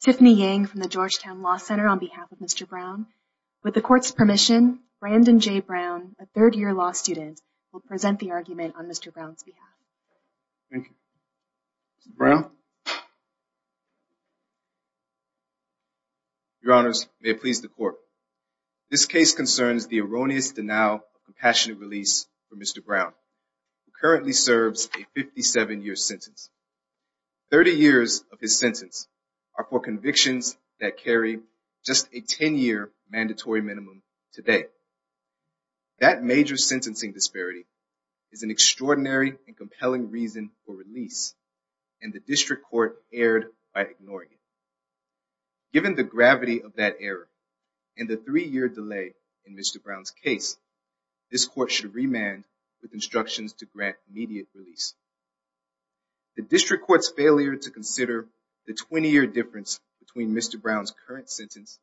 Tiffany Yang from the Georgetown Law Center on behalf of Mr. Brown. With the court's permission, Brandon J. Brown, a third-year law student, will present the argument on Mr. Brown's behalf. Your Honors, may it please the court. This case concerns the erroneous denial of Mr. Brown, who currently serves a 57-year sentence. Thirty years of his sentence are for convictions that carry just a 10-year mandatory minimum today. That major sentencing disparity is an extraordinary and compelling reason for release, and the district court erred by ignoring it. Given the gravity of that error, and the three-year delay in Mr. Brown's case, this court should remand with instructions to grant immediate release. The district court's failure to consider the 20-year difference between Mr. Brown's current sentence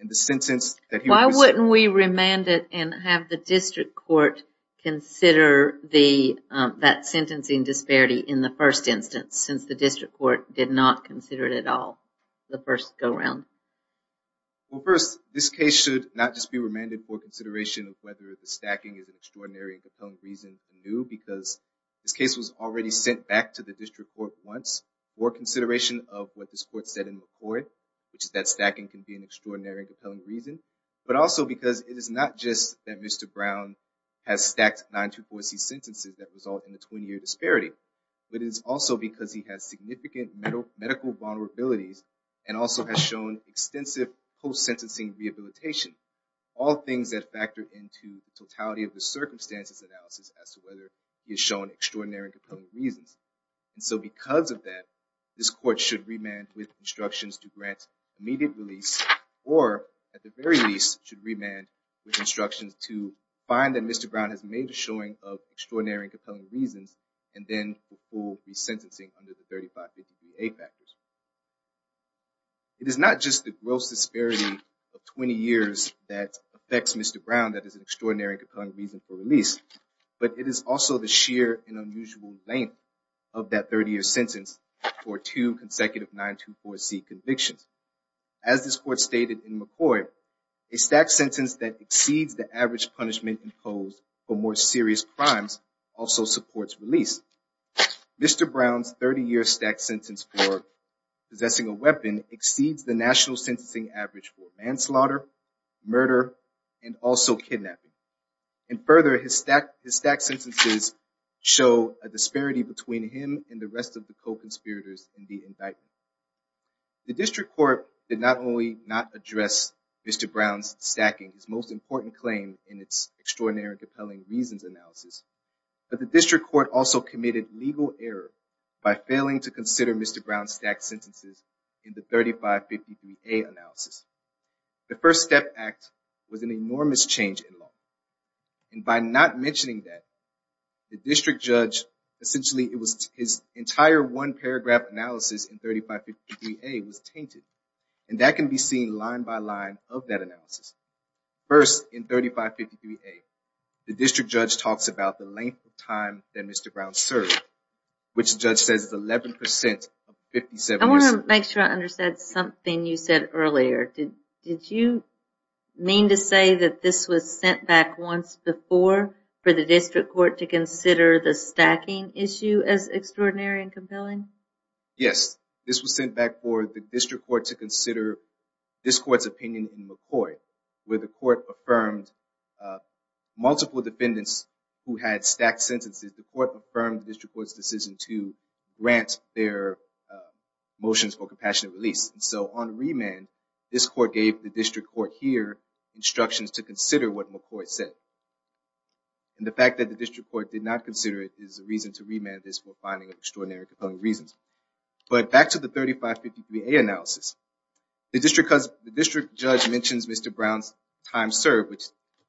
and the sentence... Why wouldn't we remand it and have the district court consider the that sentencing disparity in the first instance, since the district court did not consider it at all the first go-round? Well, first, this case should not just be remanded for consideration of whether the stacking is an extraordinary and compelling reason anew, because this case was already sent back to the district court once for consideration of what this court said in McCoy, which is that stacking can be an extraordinary and compelling reason, but also because it is not just that Mr. Brown has stacked 924C sentences that result in a 20-year disparity, but it is also because he has significant medical vulnerabilities, and also has shown extensive post-sentencing rehabilitation, all things that factor into the totality of the circumstances analysis as to whether he has shown extraordinary and compelling reasons. And so because of that, this court should remand with instructions to grant immediate release, or at the very least should remand with instructions to find that Mr. Brown has made a showing of and then will be sentencing under the 3550A factors. It is not just the gross disparity of 20 years that affects Mr. Brown that is an extraordinary and compelling reason for release, but it is also the sheer and unusual length of that 30-year sentence for two consecutive 924C convictions. As this court stated in McCoy, a stacked sentence that exceeds the average punishment imposed for more serious crimes also supports release. Mr. Brown's 30-year stacked sentence for possessing a weapon exceeds the national sentencing average for manslaughter, murder, and also kidnapping. And further, his stacked sentences show a disparity between him and the rest of the co-conspirators in the indictment. The District Court did not only not address Mr. Brown's stacking, his most important claim in its extraordinary and compelling reasons analysis, but the District Court also committed legal error by failing to consider Mr. Brown's stacked sentences in the 3550A analysis. The First Step Act was an enormous change in law, and by not mentioning that, the District Judge, essentially it was his entire one paragraph analysis in 3550A was tainted, and that can be seen line by line of that analysis. First, in 3550A, the District Judge talks about the length of time that Mr. Brown served, which the judge says is 11% of 57 years. I want to make sure I understand something you said earlier. Did you mean to say that this was sent back once before for the District Court to consider the stacking issue as extraordinary and compelling? Yes, this was sent back for the District Court to McCoy, where the court affirmed multiple defendants who had stacked sentences, the court affirmed the District Court's decision to grant their motions for compassionate release. So on remand, this court gave the District Court here instructions to consider what McCoy said, and the fact that the District Court did not consider it is a reason to remand this for finding of extraordinary and compelling reasons. But back to the 3550A analysis, the District Judge mentions Mr. Brown's time served, which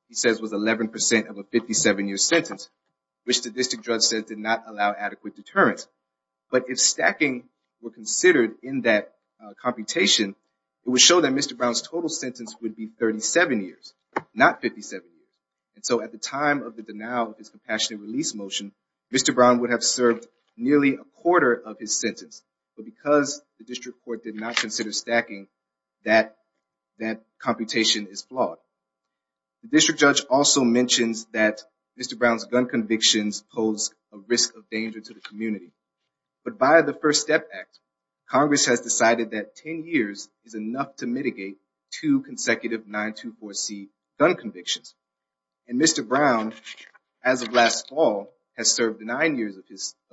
he says was 11% of a 57-year sentence, which the District Judge said did not allow adequate deterrence. But if stacking were considered in that computation, it would show that Mr. Brown's total sentence would be 37 years, not 57 years. And so at the time of the denial of his compassionate release motion, Mr. Brown would have served nearly a quarter of his sentence. But because the District Court did not consider stacking that computation is flawed. The District Judge also mentions that Mr. Brown's gun convictions pose a risk of danger to the community. But by the First Step Act, Congress has decided that 10 years is enough to mitigate two consecutive 924C gun convictions. And Mr. Brown, as of last fall, has served nine years of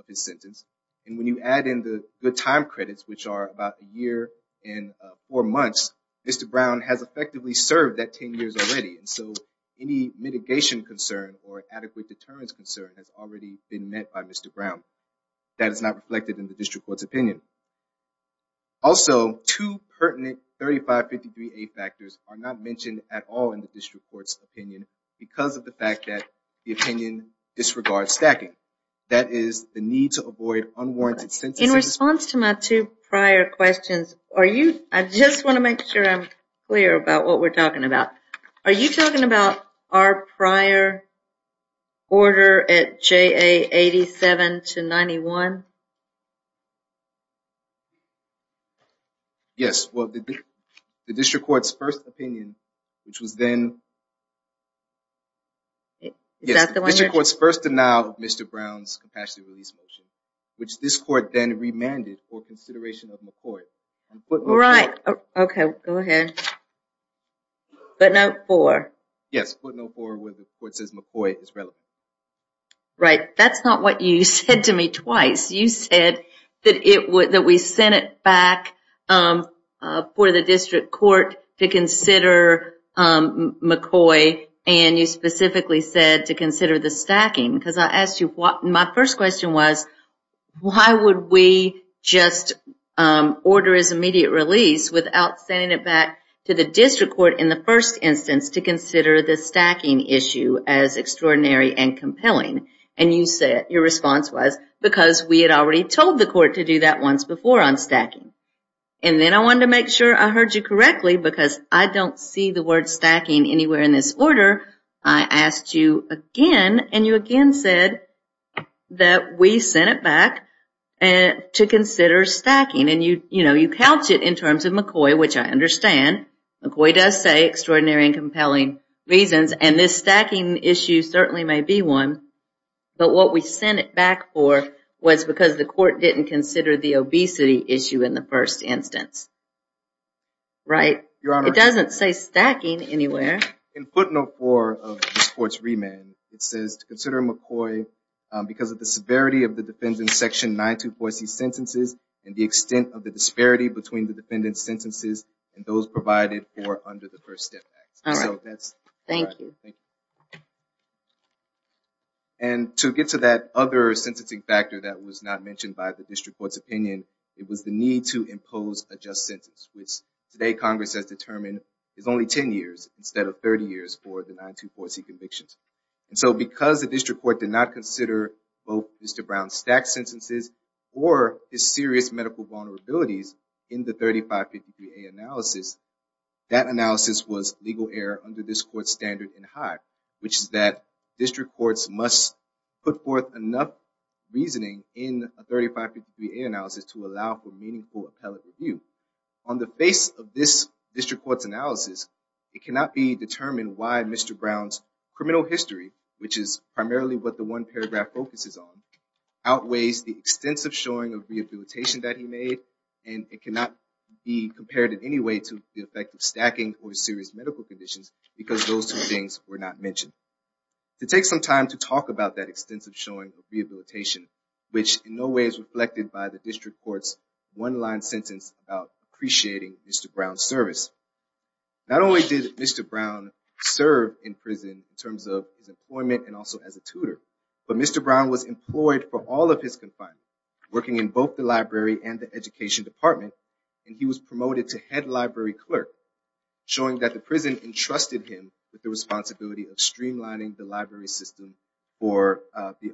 his sentence. And when you add in the good time credits, which are about a year and four months, Mr. Brown has effectively served that 10 years already. And so any mitigation concern or adequate deterrence concern has already been met by Mr. Brown. That is not reflected in the District Court's opinion. Also, two pertinent 3550A factors are not mentioned at all in the District Court's opinion because of the fact that the opinion disregards stacking. That is the need to I just want to make sure I'm clear about what we're talking about. Are you talking about our prior order at JA 87 to 91? Yes, well, the District Court's first opinion, which was then the District Court's first denial of Mr. Brown's compassionate release motion, which this court then remanded for consideration of McCoy. Right. OK, go ahead. But not for? Yes, but not for what the court says McCoy is relevant. Right. That's not what you said to me twice. You said that it would that we sent it back for the District Court to consider McCoy. And you specifically said to consider the stacking because I asked you what my first question was, why would we just order his immediate release without sending it back to the District Court in the first instance to consider the stacking issue as extraordinary and compelling? And you said your response was because we had already told the court to do that once before on stacking. And then I wanted to make sure I heard you correctly because I don't see the word stacking anywhere in this order. I asked you again and you again said that we sent it back to consider stacking and you, you know, you couch it in terms of McCoy, which I understand McCoy does say extraordinary and compelling reasons. And this stacking issue certainly may be one. But what we sent it back for was because the court didn't consider the obesity issue in the first instance. Right. Your Honor. It doesn't say stacking anywhere. In footnote 4 of this court's remand it says to consider McCoy because of the severity of the defendant's section 924C sentences and the extent of the disparity between the defendant's sentences and those provided for under the First Step Act. Thank you. And to get to that other sentencing factor that was not mentioned by the sentence, which today Congress has determined is only 10 years instead of 30 years for the 924C convictions. And so because the district court did not consider both Mr. Brown's stacked sentences or his serious medical vulnerabilities in the 3553A analysis, that analysis was legal error under this court's standard and high, which is that district courts must put forth enough reasoning in a 3553A analysis to allow for meaningful appellate review. On the face of this district court's analysis, it cannot be determined why Mr. Brown's criminal history, which is primarily what the one paragraph focuses on, outweighs the extensive showing of rehabilitation that he made and it cannot be compared in any way to the effect of stacking or serious medical conditions because those two things were not mentioned. To take some time to talk about that extensive showing of rehabilitation, which in no way is reflected by the district court's one-line sentence about appreciating Mr. Brown's service. Not only did Mr. Brown serve in prison in terms of his employment and also as a tutor, but Mr. Brown was employed for all of his confinement, working in both the library and the education department, and he was promoted to head library clerk, showing that the prison entrusted him with the responsibility of streamlining the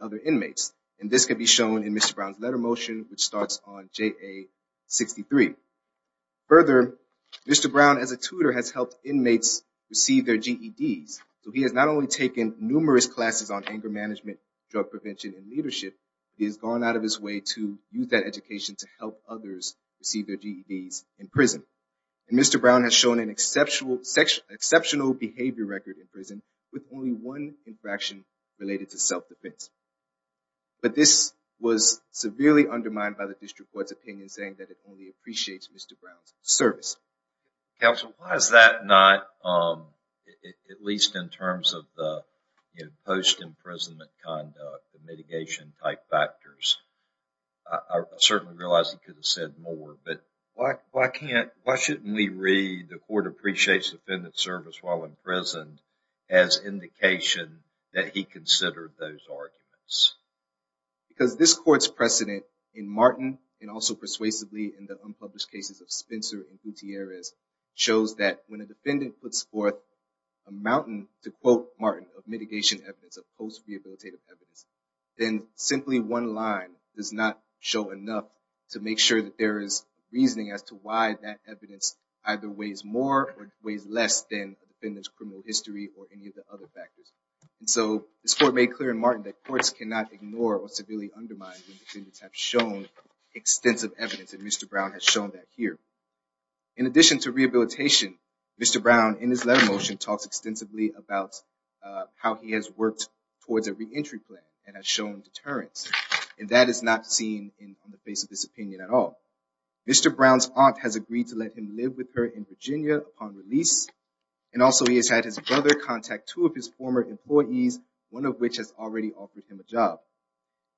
other inmates. And this can be shown in Mr. Brown's letter motion, which starts on JA 63. Further, Mr. Brown, as a tutor, has helped inmates receive their GEDs. So he has not only taken numerous classes on anger management, drug prevention, and leadership, he has gone out of his way to use that education to help others receive their GEDs in prison. And Mr. Brown has shown an exceptional behavior record in prison with only one infraction related to self-defense. But this was severely undermined by the district court's opinion saying that it only appreciates Mr. Brown's service. Counsel, why is that not, at least in terms of the post-imprisonment conduct, the mitigation type factors? I certainly realize he could have said more, but why shouldn't we read the court appreciates defendant's service while in prison as indication that he considered those arguments? Because this court's precedent in Martin, and also persuasively in the unpublished cases of Spencer and Gutierrez, shows that when a defendant puts forth a mountain, to quote Martin, of mitigation evidence, of post-rehabilitative evidence, then simply one line does not show enough to make sure that there is evidence either weighs more or weighs less than the defendant's criminal history or any of the other factors. So this court made clear in Martin that courts cannot ignore or severely undermine when defendants have shown extensive evidence, and Mr. Brown has shown that here. In addition to rehabilitation, Mr. Brown, in his letter motion, talks extensively about how he has worked towards a re-entry plan and has shown deterrence. And that is not seen on the face of this opinion at all. Mr. Brown's brother has agreed to let him live with her in Virginia upon release, and also he has had his brother contact two of his former employees, one of which has already offered him a job.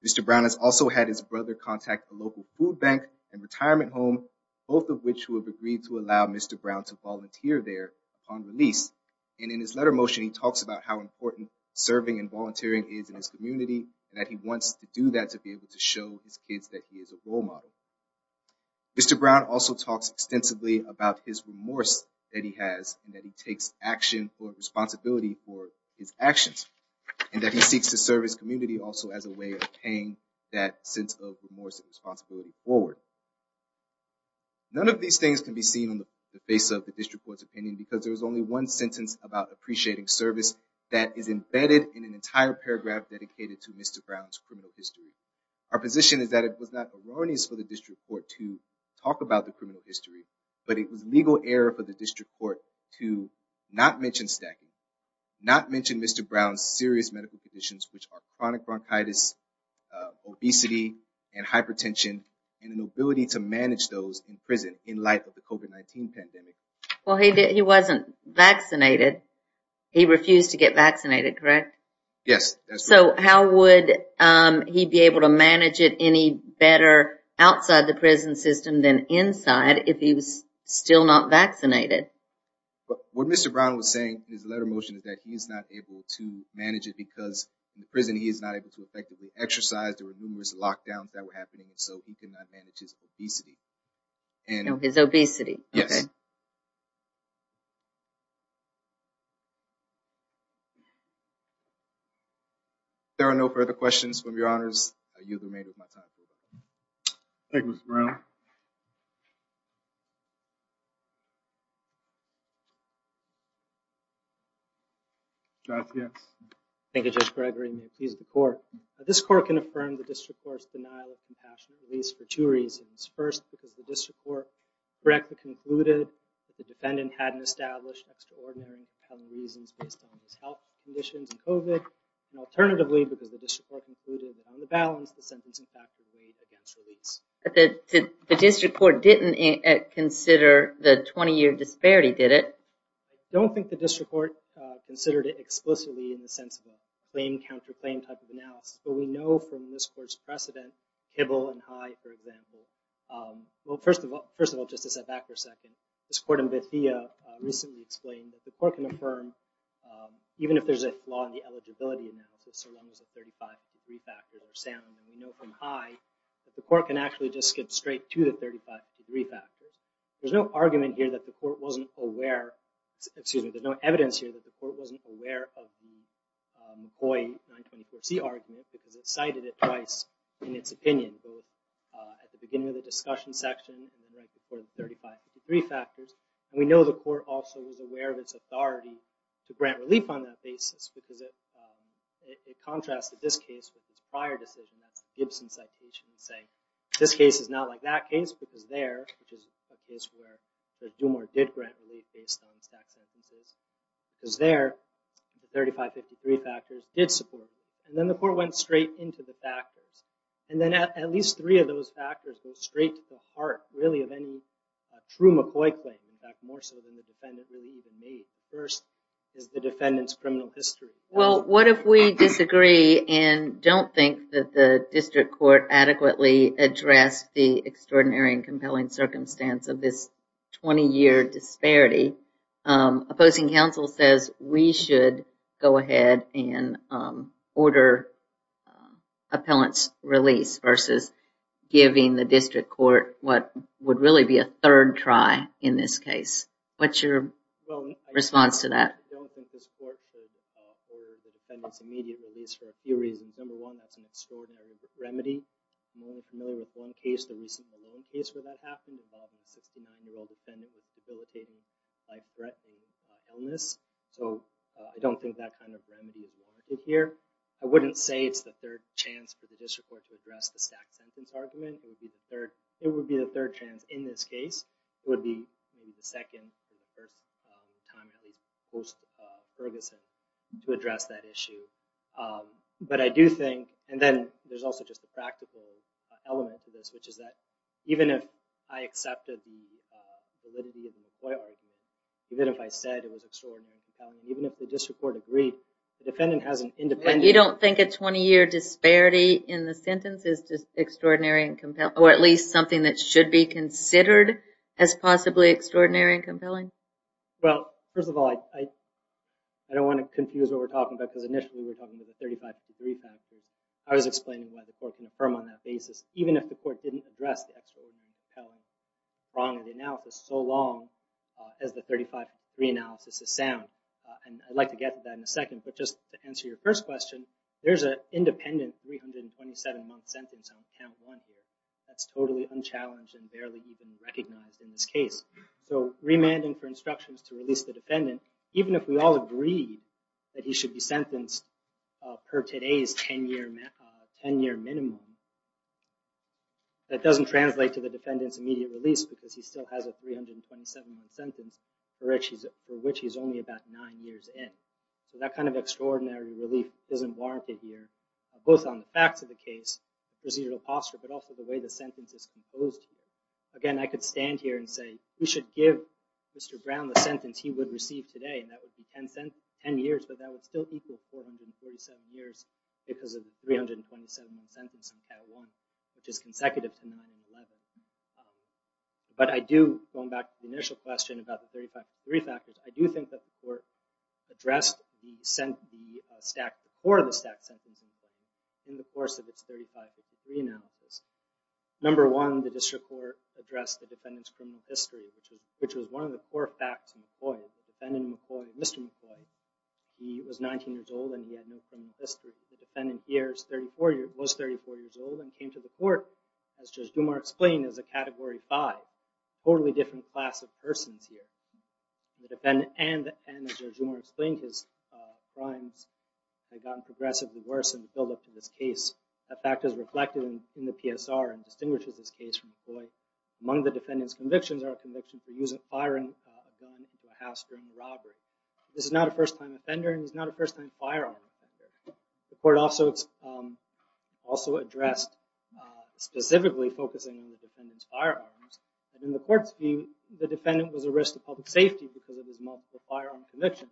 Mr. Brown has also had his brother contact a local food bank and retirement home, both of which who have agreed to allow Mr. Brown to volunteer there upon release. And in his letter motion, he talks about how important serving and volunteering is in his community, and that he wants to do that to be able to show his kids that he is a role model. Mr. Brown also talks extensively about his remorse that he has, and that he takes action or responsibility for his actions, and that he seeks to serve his community also as a way of paying that sense of remorse and responsibility forward. None of these things can be seen on the face of the district court's opinion because there is only one sentence about appreciating service that is embedded in an entire paragraph dedicated to Mr. Brown's criminal history. Our position is that it was not erroneous for the district court to talk about the criminal history, but it was legal error for the district court to not mention stacking, not mention Mr. Brown's serious medical conditions, which are chronic bronchitis, obesity, and hypertension, and an ability to manage those in prison in light of the COVID-19 pandemic. Well, he wasn't vaccinated. He refused to get vaccinated, correct? Yes, that's right. So how would he be able to manage it any better outside the prison system than inside if he was still not vaccinated? What Mr. Brown was saying in his letter motion is that he's not able to manage it because in prison he is not able to effectively exercise. There were numerous lockdowns that were happening, so he further questions from your Honors, you've remained with my time. Thank you Mr. Brown. Thank you Judge Gregory and the accused court. This court can affirm the district court's denial of compassion, at least for two reasons. First, because the district court correctly concluded that the defendant hadn't established extraordinary reasons based on his health conditions and COVID, and the district court concluded that on the balance the sentence, in fact, weighed against release. The district court didn't consider the 20-year disparity, did it? I don't think the district court considered it explicitly in the sense of a claim-counter-claim type of analysis, but we know from this court's precedent, Hibble and High, for example. Well, first of all, just to step back for a second, this court in Bethia recently explained that the court can affirm, even if there's a law in the eligibility analysis, so long as the 35 degree factors are sound, and we know from High that the court can actually just skip straight to the 35 degree factors. There's no argument here that the court wasn't aware, excuse me, there's no evidence here that the court wasn't aware of the McCoy 924C argument because it cited it twice in its opinion, both at the beginning of the discussion section and right before the 35 degree factors. We know the court also was aware of its authority to grant relief on that basis because it contrasted this case with its prior decision, that's the Gibson citation, saying this case is not like that case because there, which is a case where the DuMore did grant relief based on stacked sentences, because there, the 35 degree factors did support it. And then the court went straight into the factors, and then at least three of those factors go straight to the heart, really, of any true McCoy claim, in fact, more so than the history. Well, what if we disagree and don't think that the district court adequately addressed the extraordinary and compelling circumstance of this 20 year disparity? Opposing counsel says we should go ahead and order appellant's release versus giving the district court what would really be a third try in this case. I wouldn't say it's the third chance for the district court to address the stacked sentence argument. It would be the third chance in this case. It would be the second, or the first time, at least, post Ferguson. to address that issue. But I do think, and then there's also just a practical element to this, which is that even if I accepted the validity of the McCoy argument, even if I said it was extraordinary and compelling, even if the district court agreed, the defendant has an independent... You don't think a 20 year disparity in the sentence is extraordinary and compelling, or at least something that should be considered as possibly extraordinary and compelling? Well, first of all, I don't want to confuse what we're talking about, because initially we were talking about the 35-degree factor. I was explaining why the court can affirm on that basis, even if the court didn't address the extraordinary and compelling prong of the analysis so long as the 35-degree analysis is sound. And I'd like to get to that in a second, but just to answer your first question, there's an independent 327 month sentence on count one here. That's totally unchallenged and barely even recognized in this case. So remanding for instructions to release the defendant, even if we all agree that he should be sentenced per today's 10 year minimum, that doesn't translate to the defendant's immediate release because he still has a 327 month sentence for which he's only about nine years in. So that kind of extraordinary relief isn't warranted here, both on the facts of the case, residual posture, but also the way the sentence is composed here. Again, I could stand here and say, we should give Mr. Brown the sentence he would receive today, and that would be 10 years, but that would still equal 447 years because of the 327 month sentence on count one, which is consecutive to 9 and 11. But I do, going back to the initial question about the 35-degree factors, I do think that the court addressed the stack before the stack sentencing in the course of its 35-degree analysis. Number one, the district court addressed the defendant's criminal history, which was one of the four facts in McCoy. The defendant, Mr. McCoy, he was 19 years old and he had no criminal history. The defendant here was 34 years old and came to the court, as Judge Dumas explained, as a category five, totally different class of persons here. And as Judge Dumas explained, his crimes had gotten progressively worse in the buildup to this case. That fact is reflected in the PSR and distinguishes this case from McCoy. Among the defendant's convictions are a conviction for using a firing gun into a house during a robbery. This is not a first-time offender and he's not a first-time firearm offender. The court also addressed specifically focusing on the defendant's firearms. In the court's view, the defendant was a risk to public safety because of his multiple firearm convictions.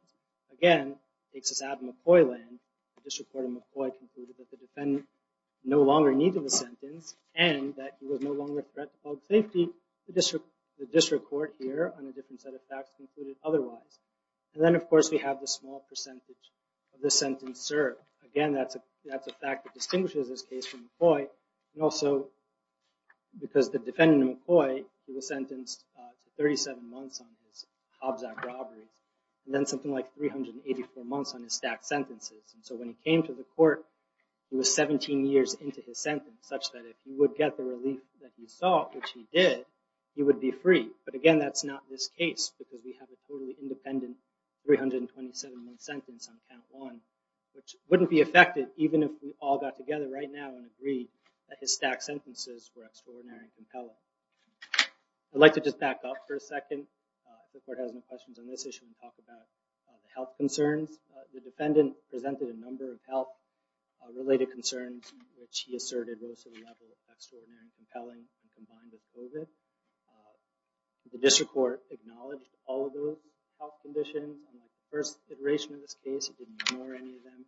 Again, it takes us out of McCoy land. The district court in McCoy concluded that the defendant no longer needed the sentence and that he was no longer a threat to public safety. The district court here on a different set of facts concluded otherwise. And then, of course, we have the small percentage of the sentence served. Again, that's a fact that distinguishes this case from McCoy. And also, because the defendant, McCoy, he was sentenced to 37 months on his Hobbs Act robberies and then something like 384 months on his stacked sentences. And so when he came to the court, he was 17 years into his sentence such that if he would get the relief that he sought, which he did, he would be free. But again, that's not this case because we have a totally independent 327-month sentence on count one, which wouldn't be affected even if we all got together right now and agreed that his stacked sentences were extraordinary and compelling. I'd like to just back up for a second. The court has no questions on this issue and talk about the health concerns. The defendant presented a number of health related concerns, which he asserted were extraordinary, compelling, and combined with COVID. The district court acknowledged all of those health conditions. In the first iteration of this case, it didn't ignore any of them.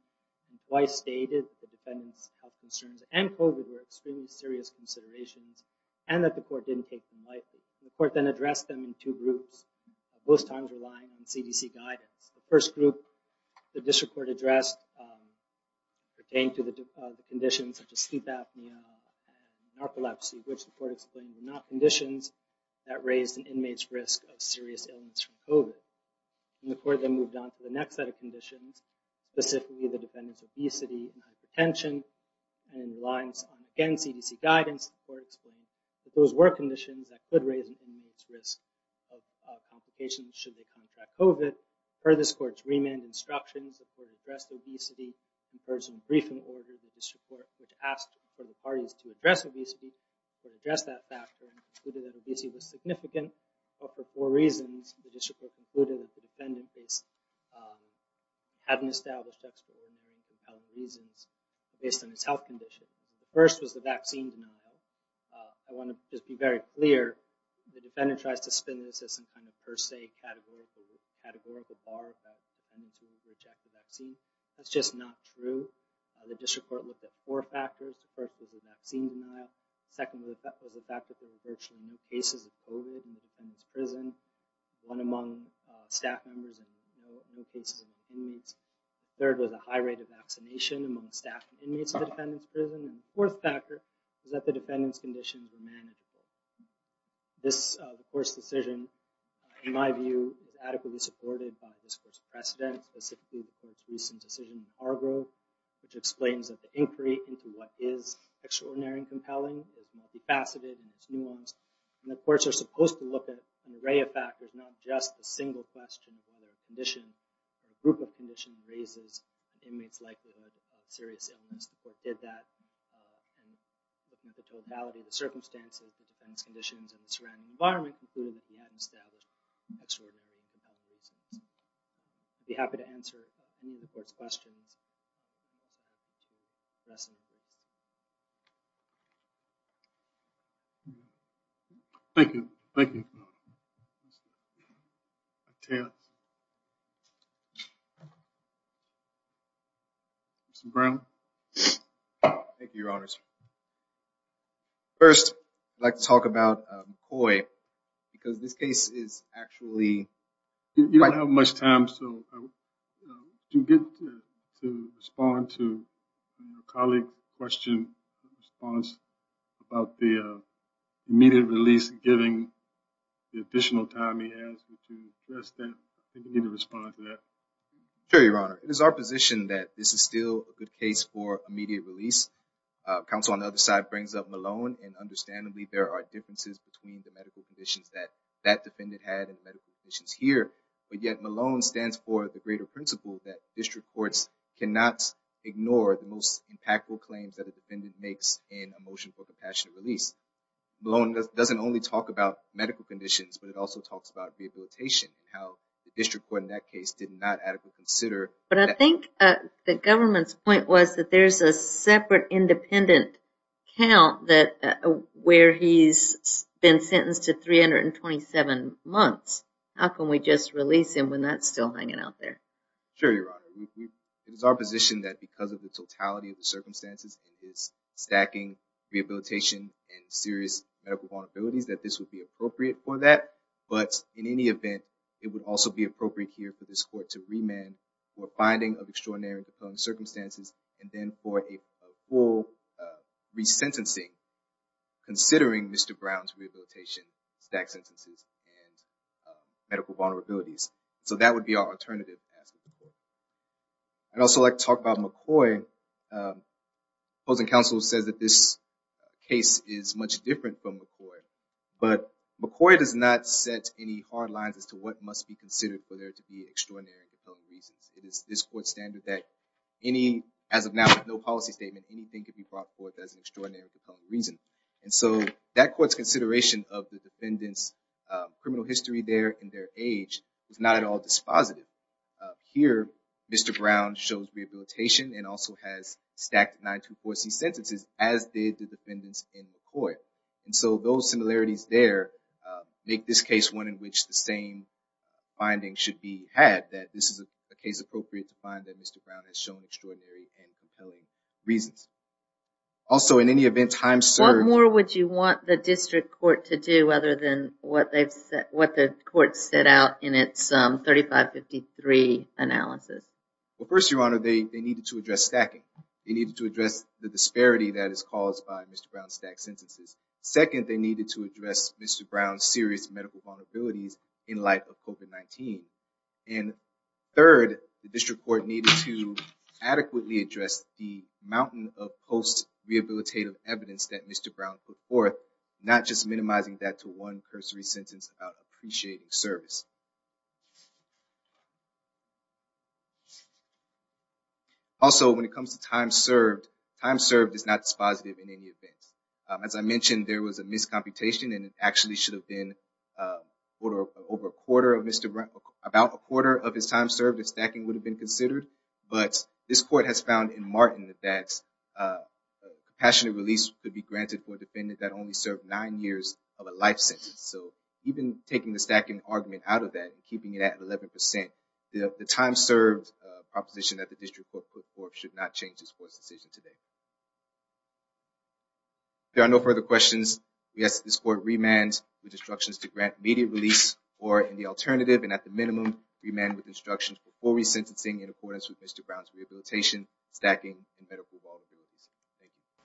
It twice stated that the defendant's health concerns and COVID were extremely serious considerations and that the court didn't take them lightly. The court then addressed them in two groups, both times relying on CDC guidance. The first group the district court addressed pertained to the conditions such as sleep apnea and narcolepsy, which the court explained were not conditions that raised an inmate's risk of serious illness from COVID. The court then moved on to the next set of conditions, specifically the defendant's obesity and hypertension and reliance on, again, CDC guidance. The court explained that those were conditions that could raise an inmate's risk of complications should they contract COVID. Per this court's remand instructions, the court addressed obesity. In person briefing order, the district court asked for the parties to address obesity, to address that factor, and concluded that obesity was significant. But for four reasons, the district court concluded that the defendant hadn't established extraordinary and compelling reasons based on his health condition. The first was the vaccine denial. I want to just be very clear, the defendant tries to spin this as some kind of per se categorical bar that the defendant's willing to reject the vaccine. That's just not true. The district court looked at four factors. The first was the vaccine denial. The second was the fact that there were virtually no cases of COVID in the defendant's prison. One among staff members and no cases of inmates. Third was a high rate of vaccination among staff and inmates in the defendant's prison. And the fourth factor was that the defendant's conditions were manageable. This court's decision, in my view, was adequately supported by this court's precedent, specifically the court's recent decision in Hargrove, which explains that the inquiry into what is extraordinary and compelling is multifaceted and nuanced. And the courts are supposed to look at an array of factors, not just a single question of whether a condition or a group of conditions raises an inmate's likelihood of serious illness. The court did that and looked at the totality of the circumstances, the defendant's conditions, and the surrounding environment, concluding that he hadn't established extraordinary and compelling reasons. I'd be happy to answer any of the court's questions. Thank you. Thank you. Mr. Brown? First, I'd like to talk about McCoy, because this case is actually... You don't have much time, so do you get to respond to a colleague's question or response about the immediate release, given the additional time he has to address that? Do you need to respond to that? Sure, Your Honor. It is our position that this is still a good case for immediate release. Counsel on the other side brings up Malone, and understandably, there are differences between the medical conditions that that defendant had and the medical conditions here. But yet, Malone stands for the greater principle that district courts cannot ignore the most impactful claims that a defendant makes in a motion for compassionate release. Malone doesn't only talk about medical conditions, but it also talks about rehabilitation and how the district court in that case did not adequately consider... But I think the government's point was that there's a separate independent count where he's been sentenced to 327 months. How can we just release him when that's still hanging out there? Sure, Your Honor. It is our position that because of the totality of the circumstances and his stacking, rehabilitation, and serious medical vulnerabilities, that this would be appropriate for that. But in any event, it would also be appropriate here for this court to remand for finding of extraordinary and compelling circumstances, and then for a full resentencing, considering Mr. Brown's rehabilitation, stacked sentences, and medical vulnerabilities. So that would be our alternative. I'd also like to talk about McCoy. The opposing counsel says that this case is much different from McCoy, but McCoy does not set any hard lines as to what must be considered for there to be extraordinary and compelling reasons. It is this court's standard that as of now, with no policy statement, anything can be brought forth as an extraordinary and compelling reason. And so that court's consideration of the defendant's criminal history there and their age is not at all dispositive. Here, Mr. Brown shows rehabilitation and also has stacked 924C sentences, as did the defendants in McCoy. And so those similarities there make this case one in which the same findings should be had, that this is a case appropriate to find that Mr. Brown has shown extraordinary and compelling reasons. What more would you want the district court to do other than what the court set out in its 3553 analysis? Well, first, Your Honor, they needed to address stacking. They needed to address the disparity that is caused by Mr. Brown's stacked sentences. Second, they needed to address Mr. Brown's serious medical vulnerabilities in light of COVID-19. And third, the district court needed to adequately address the mountain of post-rehabilitative evidence that Mr. Brown put forth, not just minimizing that to one cursory sentence about appreciating service. Also, when it comes to time served, time served is not dispositive in any event. As I mentioned, there was a miscomputation and it actually should have been over a quarter of Mr. Brown, about a quarter of his time served if stacking would have been considered. But this court has found in Martin that compassionate release could be granted for a defendant that only served nine years of a life sentence. So even taking the stacking argument out of that and keeping it at 11%, the time served proposition that the district court put forth should not change this court's decision today. If there are no further questions, we ask that this court remand with instructions to grant immediate release or, in the alternative and at the minimum, remand with instructions for full resentencing in accordance with Mr. Brown's rehabilitation, stacking, and medical vulnerabilities. Thank you.